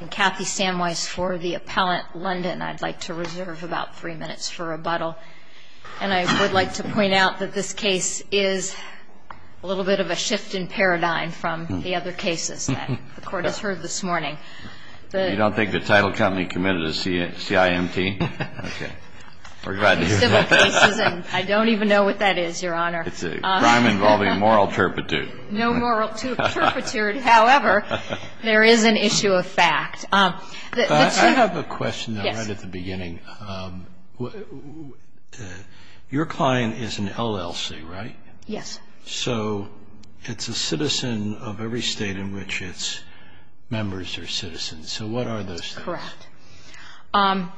And Kathy Samwise for the Appellant London. I'd like to reserve about three minutes for rebuttal. And I would like to point out that this case is a little bit of a shift in paradigm from the other cases that the Court has heard this morning. You don't think the title company committed a CIMT? Okay. Civil cases, and I don't even know what that is, Your Honor. It's a crime involving moral turpitude. No moral turpitude. However, there is an issue of fact. I have a question, though, right at the beginning. Your client is an LLC, right? Yes. So it's a citizen of every state in which its members are citizens. So what are those states? Correct. Well,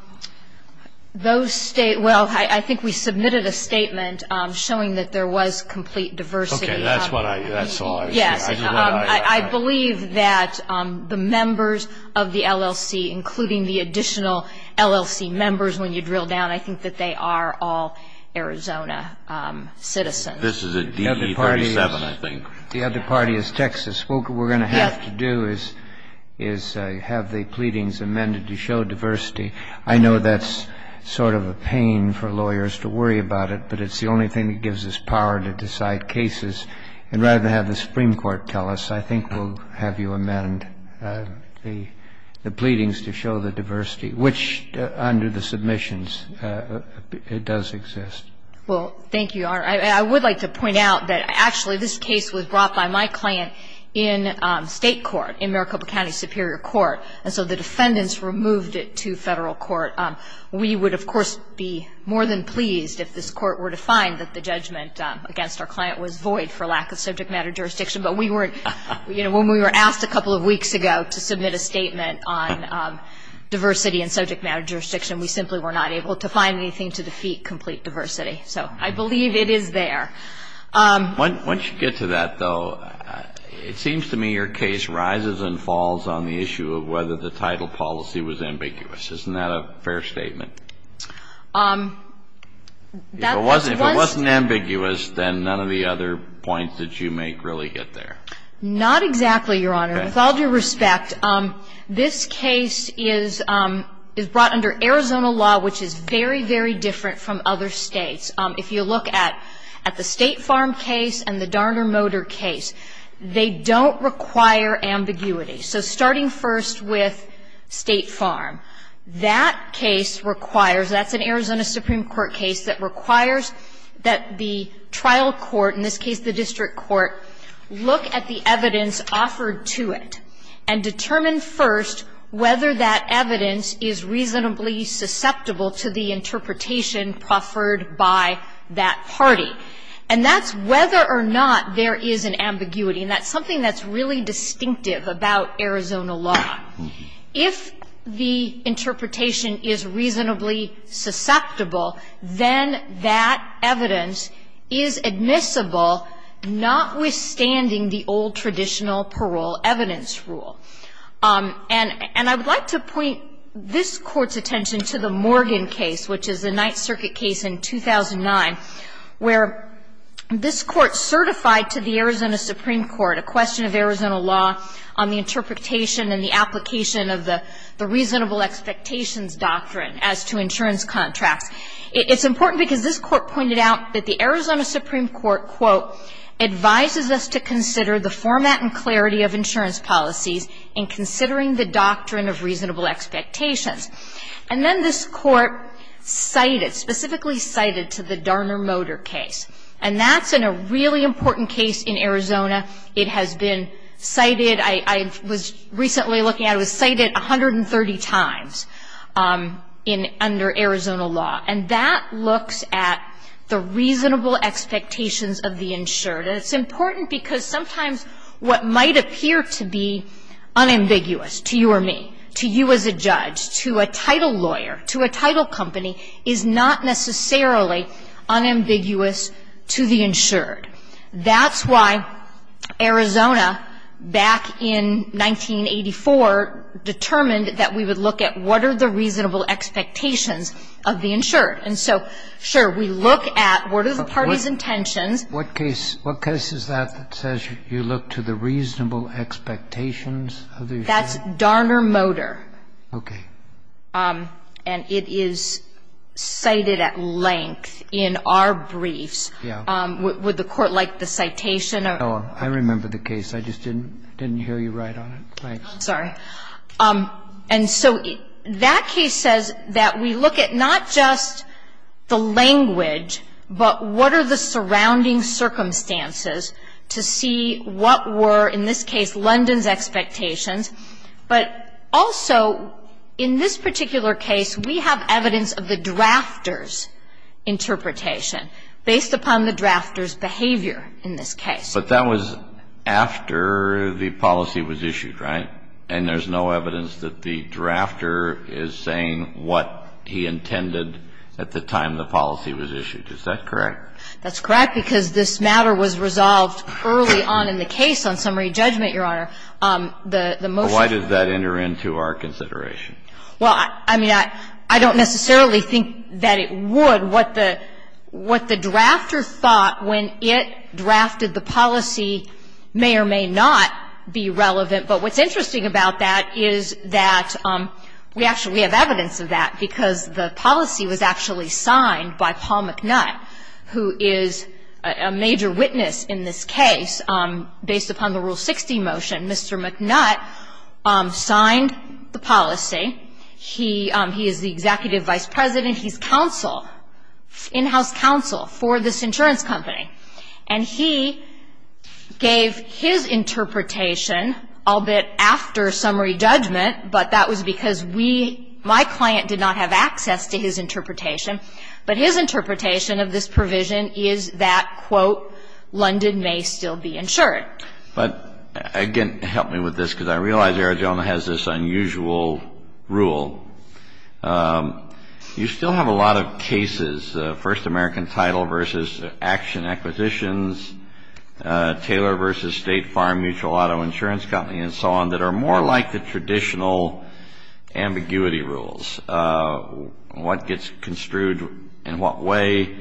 I think we submitted a statement showing that there was complete diversity. Okay. That's what I saw. Yes. I believe that the members of the LLC, including the additional LLC members, when you drill down, I think that they are all Arizona citizens. This is a DE-37, I think. The other party is Texas. What we're going to have to do is have the pleadings amended to show diversity. I know that's sort of a pain for lawyers to worry about it, but it's the only thing that gives us power to decide cases. And rather than have the Supreme Court tell us, I think we'll have you amend the pleadings to show the diversity, which, under the submissions, it does exist. Well, thank you, Your Honor. I would like to point out that, actually, this case was brought by my client in state court, in Maricopa County Superior Court. And so the defendants removed it to Federal court. We would, of course, be more than pleased if this court were to find that the judgment against our client was void for lack of subject matter jurisdiction. But we weren't. You know, when we were asked a couple of weeks ago to submit a statement on diversity and subject matter jurisdiction, we simply were not able to find anything to defeat complete diversity. So I believe it is there. Once you get to that, though, it seems to me your case rises and falls on the issue of whether the title policy was ambiguous. Isn't that a fair statement? If it wasn't ambiguous, then none of the other points that you make really get there. Not exactly, Your Honor. With all due respect, this case is brought under Arizona law, which is very, very different from other States. If you look at the State Farm case and the Darner Motor case, they don't require ambiguity. So starting first with State Farm, that case requires, that's an Arizona Supreme Court case that requires that the trial court, in this case the district court, look at the evidence offered to it and determine first whether that evidence is reasonably susceptible to the interpretation proffered by that party. And that's whether or not there is an ambiguity. And that's something that's really distinctive about Arizona law. If the interpretation is reasonably susceptible, then that evidence is admissible notwithstanding the old traditional parole evidence rule. And I would like to point this Court's attention to the Morgan case, which is the Arizona Supreme Court, a question of Arizona law on the interpretation and the application of the reasonable expectations doctrine as to insurance contracts. It's important because this Court pointed out that the Arizona Supreme Court, quote, advises us to consider the format and clarity of insurance policies in considering the doctrine of reasonable expectations. And then this Court cited, specifically cited to the Darner-Motor case. And that's in a really important case in Arizona. It has been cited. I was recently looking at it. It was cited 130 times under Arizona law. And that looks at the reasonable expectations of the insured. And it's important because sometimes what might appear to be unambiguous to you or me, to you as a judge, to a title lawyer, to a title company, is not necessarily unambiguous to the insured. That's why Arizona, back in 1984, determined that we would look at what are the reasonable expectations of the insured. And so, sure, we look at what are the party's intentions. What case is that that says you look to the reasonable expectations of the insured? That's Darner-Motor. And it is cited at length in our briefs. Would the Court like the citation? I remember the case. I just didn't hear you right on it. I'm sorry. And so that case says that we look at not just the language, but what are the surrounding circumstances to see what were, in this case, London's expectations. But also, in this particular case, we have evidence of the drafter's interpretation based upon the drafter's behavior in this case. But that was after the policy was issued, right? And there's no evidence that the drafter is saying what he intended at the time the policy was issued. Is that correct? That's correct, because this matter was resolved early on in the case on summary judgment, Your Honor. The motion was issued. But why does that enter into our consideration? Well, I mean, I don't necessarily think that it would. What the drafter thought when it drafted the policy may or may not be relevant. But what's interesting about that is that we actually have evidence of that, because the policy was actually signed by Paul McNutt, who is a major witness in this case. Based upon the Rule 60 motion, Mr. McNutt signed the policy. He is the executive vice president. He's counsel, in-house counsel for this insurance company. And he gave his interpretation a little bit after summary judgment, but that was because we, my client, did not have access to his interpretation. But his interpretation of this provision is that, quote, London may still be insured. But again, help me with this, because I realize the other gentleman has this unusual rule. You still have a lot of cases, First American Title v. Action Acquisitions, Taylor v. State Farm Mutual Auto Insurance Company, and so on, that are more like the traditional ambiguity rules. What gets construed in what way?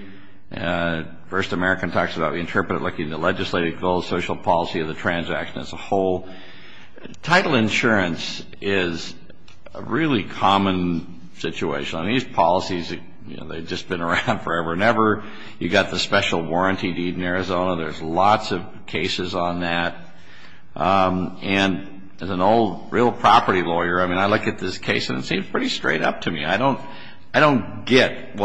First American talks about we interpret it looking at legislative goals, social policy, or the transaction as a whole. Title insurance is a really common situation. These policies, they've just been around forever and ever. You've got the special warranty deed in Arizona. There's lots of cases on that. And as an old real property lawyer, I mean, I look at this case and it seems pretty straight up to me. I don't get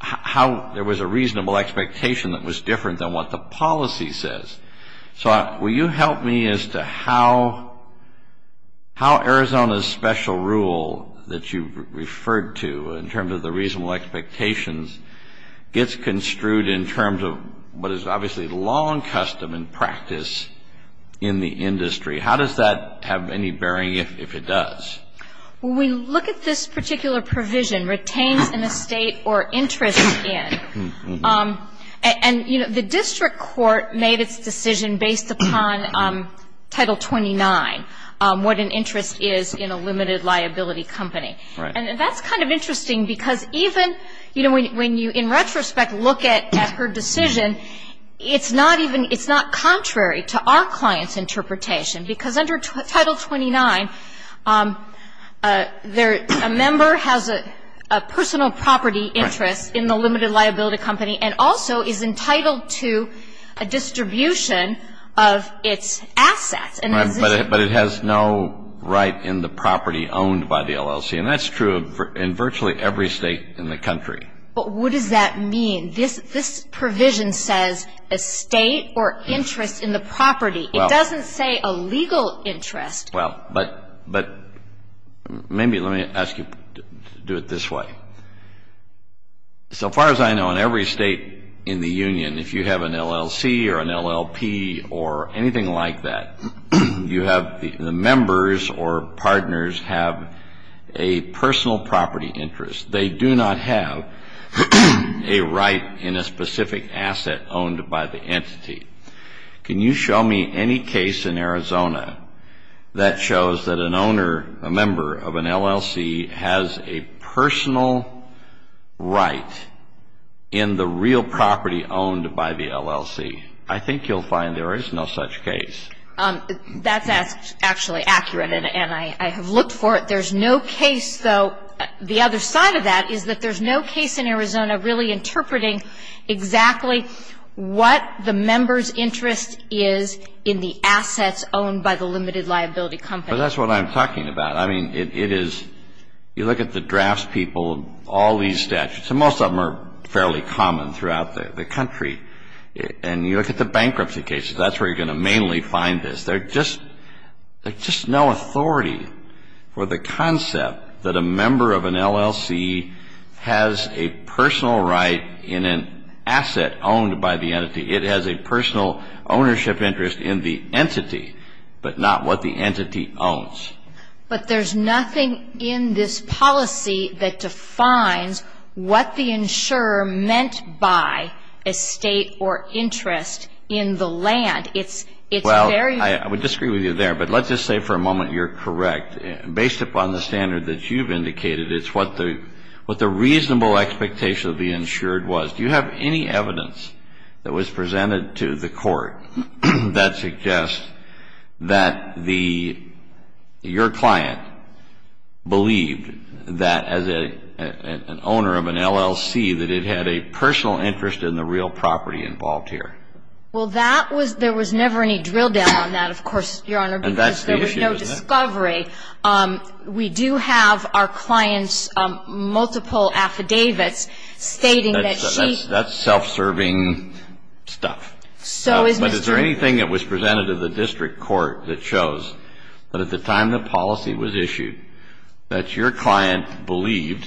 how there was a reasonable expectation that was different than what the policy says. So will you help me as to how Arizona's special rule that you referred to in terms of the reasonable expectations gets construed in terms of what is obviously long custom and practice in the industry? How does that have any bearing, if it does? Well, when you look at this particular provision, retains an estate or interest in, and, you know, the district court made its decision based upon Title 29, what an interest is in a limited liability company. Right. And that's kind of interesting because even, you know, when you in retrospect look at her decision, it's not contrary to our client's interpretation because under Title 29, a member has a personal property interest in the limited liability company and also is entitled to a distribution of its assets. But it has no right in the property owned by the LLC. And that's true in virtually every state in the country. But what does that mean? This provision says estate or interest in the property. It doesn't say a legal interest. Well, but maybe let me ask you to do it this way. So far as I know, in every state in the union, if you have an LLC or an LLP or anything like that, you have the members or partners have a personal property interest. They do not have a right in a specific asset owned by the entity. Can you show me any case in Arizona that shows that an owner, a member of an LLC, has a personal right in the real property owned by the LLC? I think you'll find there is no such case. That's actually accurate, and I have looked for it. There's no case, though, the other side of that is that there's no case in Arizona really interpreting exactly what the member's interest is in the assets owned by the limited liability company. Well, that's what I'm talking about. I mean, it is you look at the drafts people, all these statutes, and most of them are fairly common throughout the country. And you look at the bankruptcy cases. That's where you're going to mainly find this. There's just no authority for the concept that a member of an LLC has a personal right in an asset owned by the entity. It has a personal ownership interest in the entity, but not what the entity owns. But there's nothing in this policy that defines what the insurer meant by a state or interest in the land. It's very ---- Well, I would disagree with you there, but let's just say for a moment you're correct. Based upon the standard that you've indicated, it's what the reasonable expectation of the insured was. Do you have any evidence that was presented to the court that suggests that the ---- your client believed that as an owner of an LLC that it had a personal interest in the real property involved here? Well, that was ---- there was never any drill down on that, of course, Your Honor. And that's the issue. Because there was no discovery. We do have our client's multiple affidavits stating that she ---- That's self-serving stuff. So is Mr. ---- But is there anything that was presented to the district court that shows that at the time the policy was issued that your client believed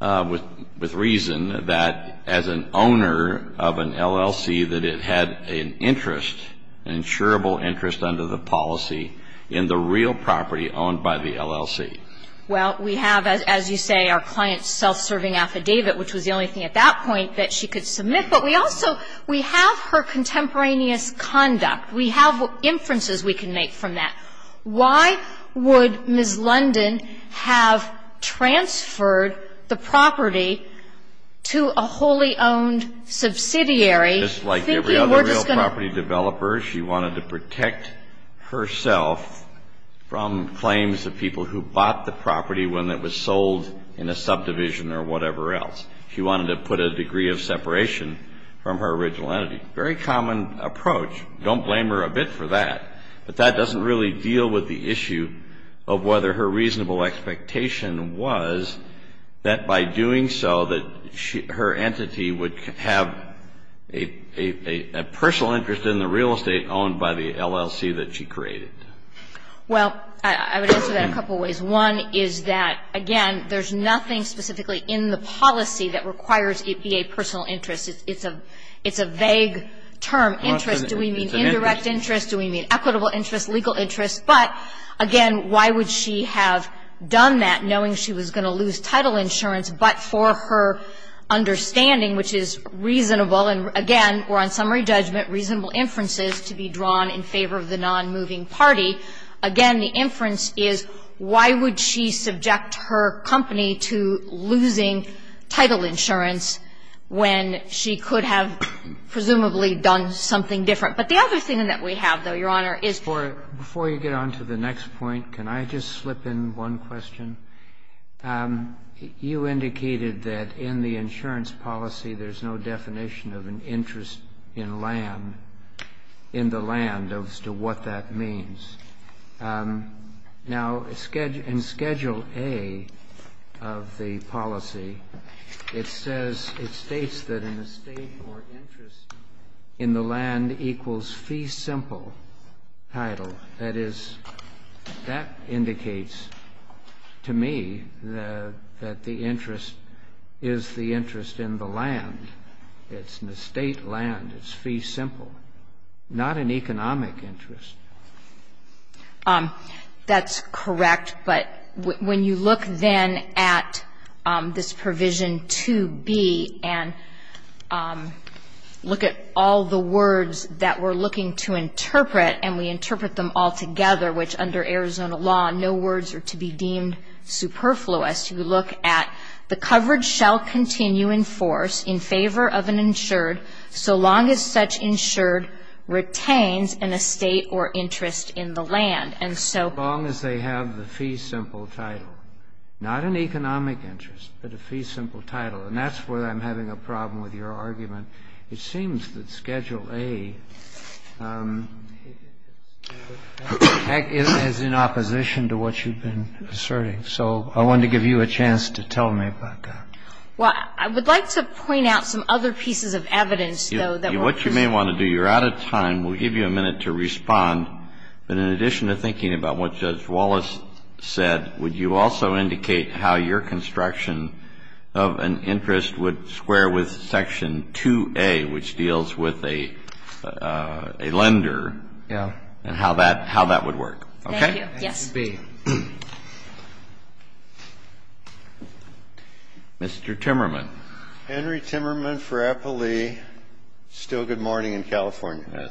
with reason that as an owner of an LLC that it had an interest, an insurable interest under the policy in the real property owned by the LLC? Well, we have, as you say, our client's self-serving affidavit, which was the only thing at that point that she could submit. But we also ---- we have her contemporaneous conduct. We have inferences we can make from that. Why would Ms. London have transferred the property to a wholly owned subsidiary thinking we're just going to ---- And that's not the property when it was sold in a subdivision or whatever else. She wanted to put a degree of separation from her original entity. Very common approach. Don't blame her a bit for that. But that doesn't really deal with the issue of whether her reasonable expectation was that by doing so that her entity would have a personal interest in the real estate owned by the LLC that she created. Well, I would answer that a couple ways. One is that, again, there's nothing specifically in the policy that requires it be a personal interest. It's a vague term, interest. Do we mean indirect interest? Do we mean equitable interest, legal interest? But, again, why would she have done that knowing she was going to lose title insurance, but for her understanding, which is reasonable, and again, we're on summary judgment, reasonable inferences to be drawn in favor of the nonmoving party. Again, the inference is, why would she subject her company to losing title insurance when she could have presumably done something different? But the other thing that we have, though, Your Honor, is for you. Before you get on to the next point, can I just slip in one question? You indicated that in the insurance policy there's no definition of an interest in land, in the land as to what that means. Now, in Schedule A of the policy, it says, it states that an estate or interest in the land equals fee simple title. That is, that indicates to me that the interest is the interest in the land. It's an estate land. It's fee simple. Not an economic interest. That's correct, but when you look then at this Provision 2B and look at all the words that we're looking to interpret, and we interpret them all together, which under Arizona law no words are to be deemed superfluous, you look at the coverage shall continue in force in favor of an insured so long as such insured retains an estate or interest in the land. And so as long as they have the fee simple title, not an economic interest, but a fee simple title. And that's where I'm having a problem with your argument. It seems that Schedule A is in opposition to what you've been asserting. So I wanted to give you a chance to tell me about that. Well, I would like to point out some other pieces of evidence, though, that were So I'm going to give you a minute to respond. If you may want to do, you're out of time. We'll give you a minute to respond. But in addition to thinking about what Judge Wallace said, would you also indicate how your construction of an interest would square with Section 2A, which deals with a lender and how that would work? Thank you. Yes. Please be. Mr. Timmerman. Henry Timmerman for Applely. Still good morning in California.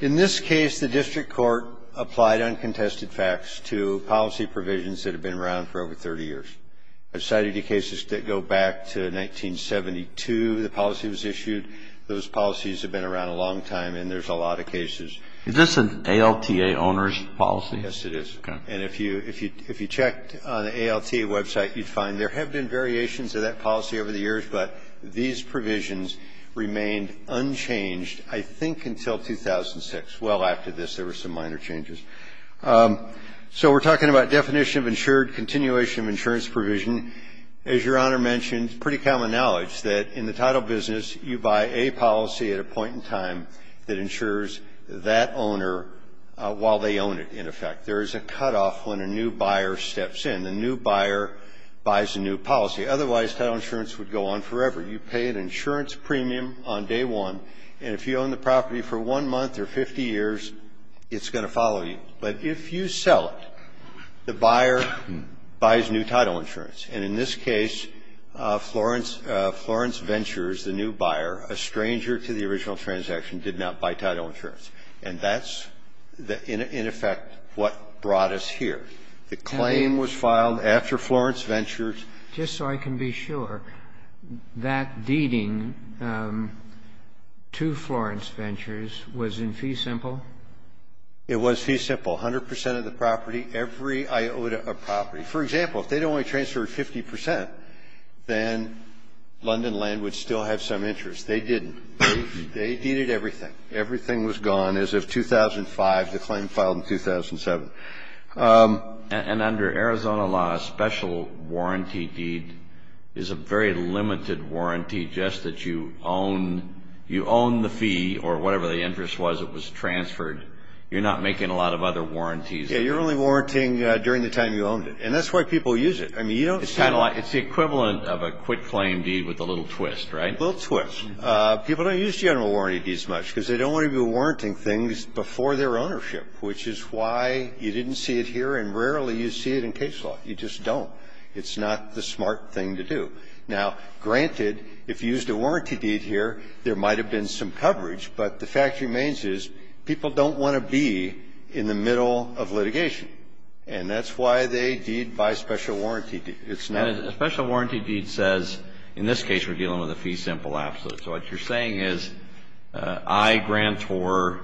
In this case, the district court applied uncontested facts to policy provisions that have been around for over 30 years. I've cited the cases that go back to 1972, the policy was issued. Those policies have been around a long time, and there's a lot of cases. Is this an ALTA owner's policy? Yes, it is. Okay. And if you checked on the ALTA website, you'd find there have been variations of that policy over the years, but these provisions remained unchanged, I think, until 2006. Well, after this, there were some minor changes. So we're talking about definition of insured, continuation of insurance provision. As Your Honor mentioned, it's pretty common knowledge that in the title business, you buy a policy at a point in time that insures that owner while they own it, in effect. There is a cutoff when a new buyer steps in. The new buyer buys a new policy. Otherwise, title insurance would go on forever. You pay an insurance premium on day one, and if you own the property for one month or 50 years, it's going to follow you. But if you sell it, the buyer buys new title insurance. And in this case, Florence Ventures, the new buyer, a stranger to the original transaction, did not buy title insurance. And that's, in effect, what brought us here. The claim was filed after Florence Ventures. Just so I can be sure, that deeding to Florence Ventures was in fee simple? It was fee simple. A hundred percent of the property, every iota of property. For example, if they'd only transferred 50 percent, then London Land would still have some interest. They didn't. They deeded everything. Everything was gone as of 2005. The claim filed in 2007. And under Arizona law, a special warranty deed is a very limited warranty, just that you own the fee or whatever the interest was that was transferred. You're not making a lot of other warranties. Yeah, you're only warranting during the time you owned it. And that's why people use it. I mean, you don't see a lot. It's the equivalent of a quitclaim deed with a little twist, right? A little twist. People don't use general warranty deeds much because they don't want to be warranting things before their ownership, which is why you didn't see it here and rarely you see it in case law. You just don't. It's not the smart thing to do. Now, granted, if you used a warranty deed here, there might have been some coverage. But the fact remains is people don't want to be in the middle of litigation. And that's why they deed by special warranty. A special warranty deed says, in this case, we're dealing with a fee simple absolute. So what you're saying is I grant or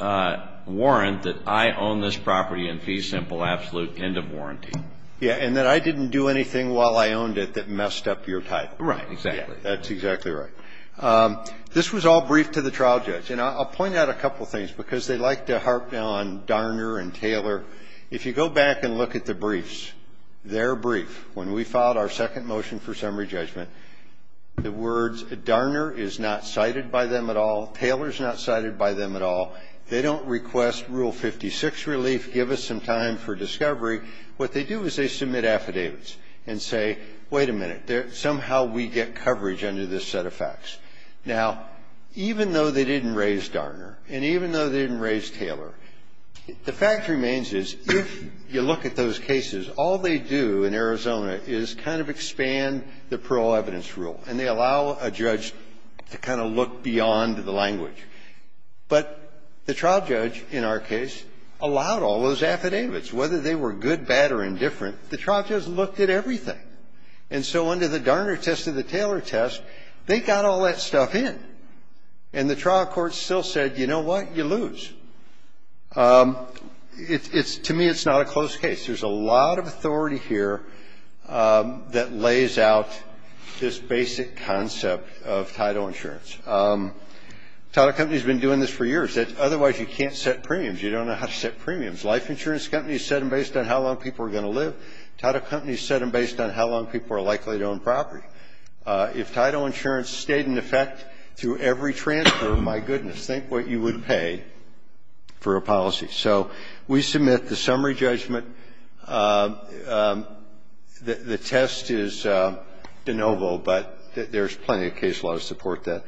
warrant that I own this property in fee simple absolute end of warranty. Yeah, and that I didn't do anything while I owned it that messed up your title. Right, exactly. That's exactly right. This was all briefed to the trial judge. And I'll point out a couple things because they like to harp now on Darner and Taylor. If you go back and look at the briefs, their brief, when we filed our second motion for summary judgment, the words Darner is not cited by them at all, Taylor is not cited by them at all. They don't request Rule 56 relief, give us some time for discovery. What they do is they submit affidavits and say, wait a minute, somehow we get coverage under this set of facts. Now, even though they didn't raise Darner and even though they didn't raise Taylor, the fact remains is if you look at those cases, all they do in Arizona is kind of expand the parole evidence rule. And they allow a judge to kind of look beyond the language. But the trial judge in our case allowed all those affidavits. Whether they were good, bad, or indifferent, the trial judge looked at everything. And so under the Darner test and the Taylor test, they got all that stuff in. And the trial court still said, you know what, you lose. To me, it's not a close case. There's a lot of authority here that lays out this basic concept of title insurance. Title companies have been doing this for years. Otherwise, you can't set premiums. You don't know how to set premiums. Life insurance companies set them based on how long people are going to live. Title companies set them based on how long people are likely to own property. If title insurance stayed in effect through every transfer, my goodness, think what you would pay for a policy. So we submit the summary judgment. The test is de novo, but there's plenty of case law to support that.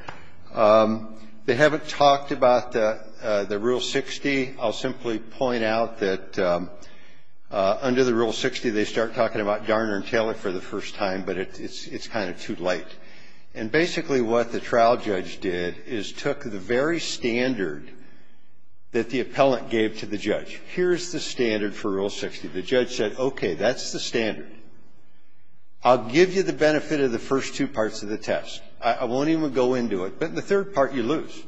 They haven't talked about the Rule 60. I'll simply point out that under the Rule 60, they start talking about Darner and Taylor for the first time, but it's kind of too late. And basically what the trial judge did is took the very standard that the appellant gave to the judge. Here's the standard for Rule 60. The judge said, okay, that's the standard. I'll give you the benefit of the first two parts of the test. I won't even go into it. But in the third part, you lose.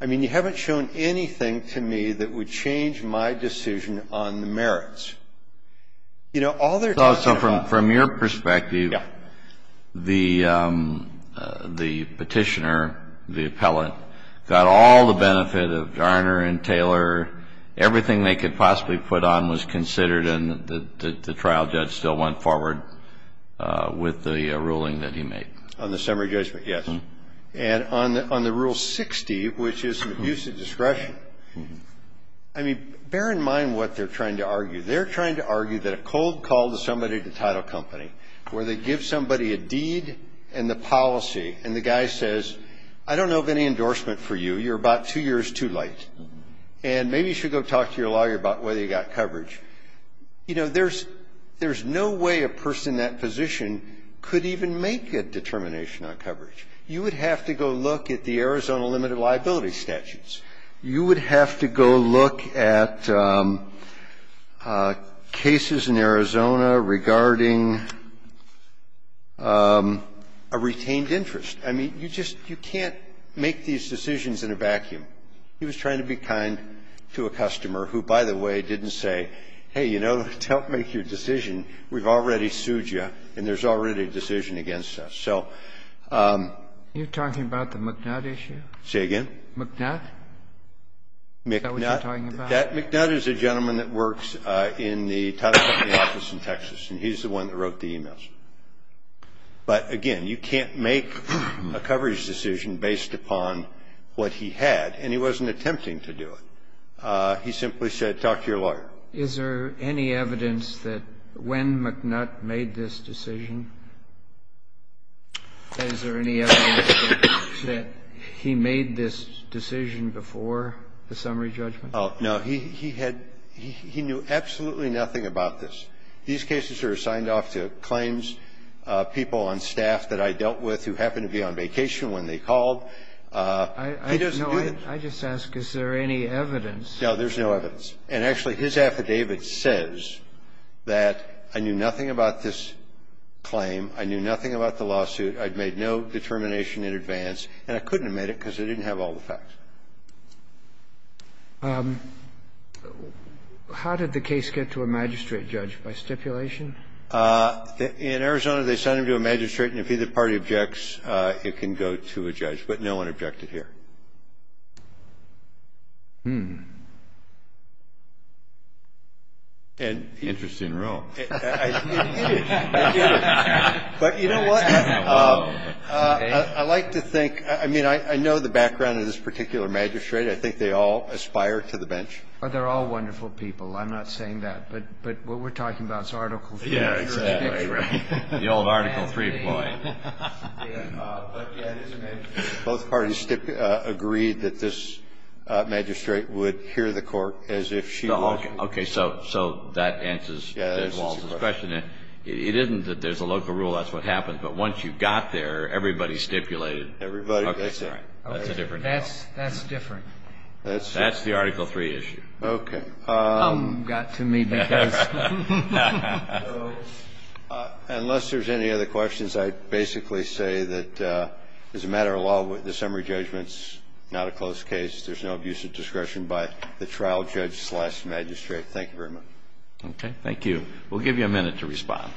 I mean, you haven't shown anything to me that would change my decision on the merits. You know, all they're talking about. So from your perspective, the petitioner, the appellant, got all the benefit of Darner and Taylor. Everything they could possibly put on was considered and the trial judge still went forward with the ruling that he made. On the summary judgment, yes. And on the Rule 60, which is an abuse of discretion, I mean, bear in mind what they're trying to argue. They're trying to argue that a cold call to somebody at the title company where they give somebody a deed and the policy and the guy says, I don't know of any endorsement for you. You're about two years too late. And maybe you should go talk to your lawyer about whether you got coverage. You know, there's no way a person in that position could even make a determination on coverage. You would have to go look at the Arizona limited liability statutes. You would have to go look at cases in Arizona regarding a retained interest. I mean, you just, you can't make these decisions in a vacuum. He was trying to be kind to a customer who, by the way, didn't say, hey, you know, don't make your decision. We've already sued you and there's already a decision against us. So. Are you talking about the McNutt issue? Say again? McNutt? Is that what you're talking about? McNutt is a gentleman that works in the title company office in Texas, and he's the one that wrote the emails. But, again, you can't make a coverage decision based upon what he had, and he wasn't attempting to do it. He simply said, talk to your lawyer. Is there any evidence that when McNutt made this decision, is there any evidence that he made this decision before the summary judgment? Oh, no. He had he knew absolutely nothing about this. These cases are assigned off to claims people on staff that I dealt with who happened to be on vacation when they called. He doesn't do that. I just ask, is there any evidence? No, there's no evidence. And, actually, his affidavit says that I knew nothing about this claim, I knew nothing about the lawsuit, I'd made no determination in advance, and I couldn't have made it because I didn't have all the facts. How did the case get to a magistrate judge? By stipulation? In Arizona, they sent him to a magistrate, and if either party objects, it can go to a judge. But no one objected here. Interesting rule. It is. But you know what? I like to think, I mean, I know the background of this particular magistrate. I think they all aspire to the bench. But they're all wonderful people. I'm not saying that. But what we're talking about is Article 3. Yeah, exactly. The old Article 3 point. Both parties agreed that this magistrate would hear the court as if she were. Okay. So that answers Judge Walz's question. It isn't that there's a local rule. That's what happens. But once you got there, everybody stipulated. Everybody. That's right. That's a different. That's different. That's the Article 3 issue. Okay. Got to me because. Unless there's any other questions, I basically say that as a matter of law, the summary judgment's not a close case. There's no abuse of discretion by the trial judge slash magistrate. Thank you very much. Okay. Thank you. We'll give you a minute to respond.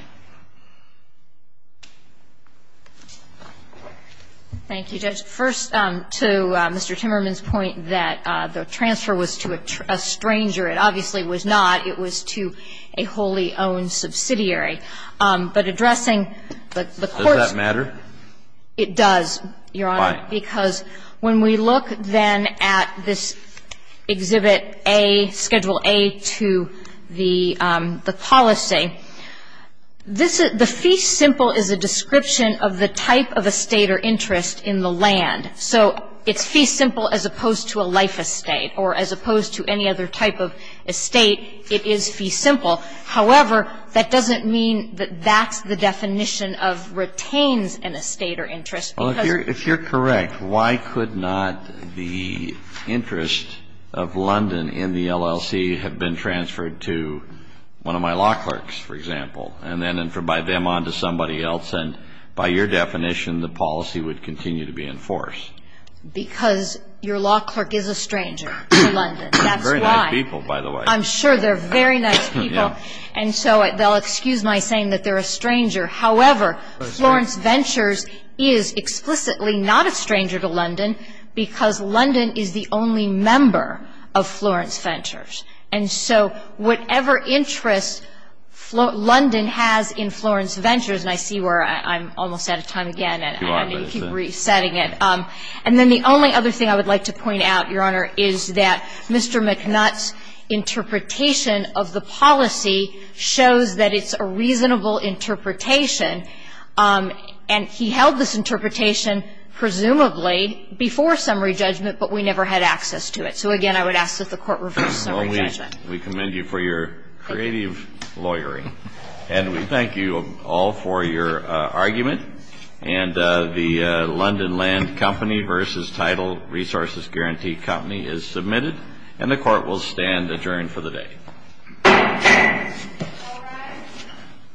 Thank you, Judge. First, to Mr. Timmerman's point that the transfer was to a stranger. It obviously was not. It was to a wholly owned subsidiary. But addressing the court's. Does that matter? It does, Your Honor. Why? Because when we look then at this Exhibit A, Schedule A to the policy, the fee simple is a description of the type of estate or interest in the land. So it's fee simple as opposed to a life estate or as opposed to any other type of estate. It is fee simple. However, that doesn't mean that that's the definition of retains an estate or interest because. Well, if you're correct, why could not the interest of London in the LLC have been transferred to one of my law clerks, for example, and then by them on to somebody else? And by your definition, the policy would continue to be in force. Because your law clerk is a stranger to London. That's why. They're very nice people, by the way. I'm sure they're very nice people. And so they'll excuse my saying that they're a stranger. However, Florence Ventures is explicitly not a stranger to London because London is the only member of Florence Ventures. And so whatever interest London has in Florence Ventures, and I see where I'm almost out of time again. You are, but it's. And I need to keep resetting it. And then the only other thing I would like to point out, Your Honor, is that Mr. McNutt's interpretation of the policy shows that it's a reasonable interpretation, and he held this interpretation presumably before summary judgment, but we never had access to it. So, again, I would ask that the Court reverse summary judgment. We commend you for your creative lawyering. And we thank you all for your argument. And the London Land Company v. Title Resources Guarantee Company is submitted, and the Court will stand adjourned for the day.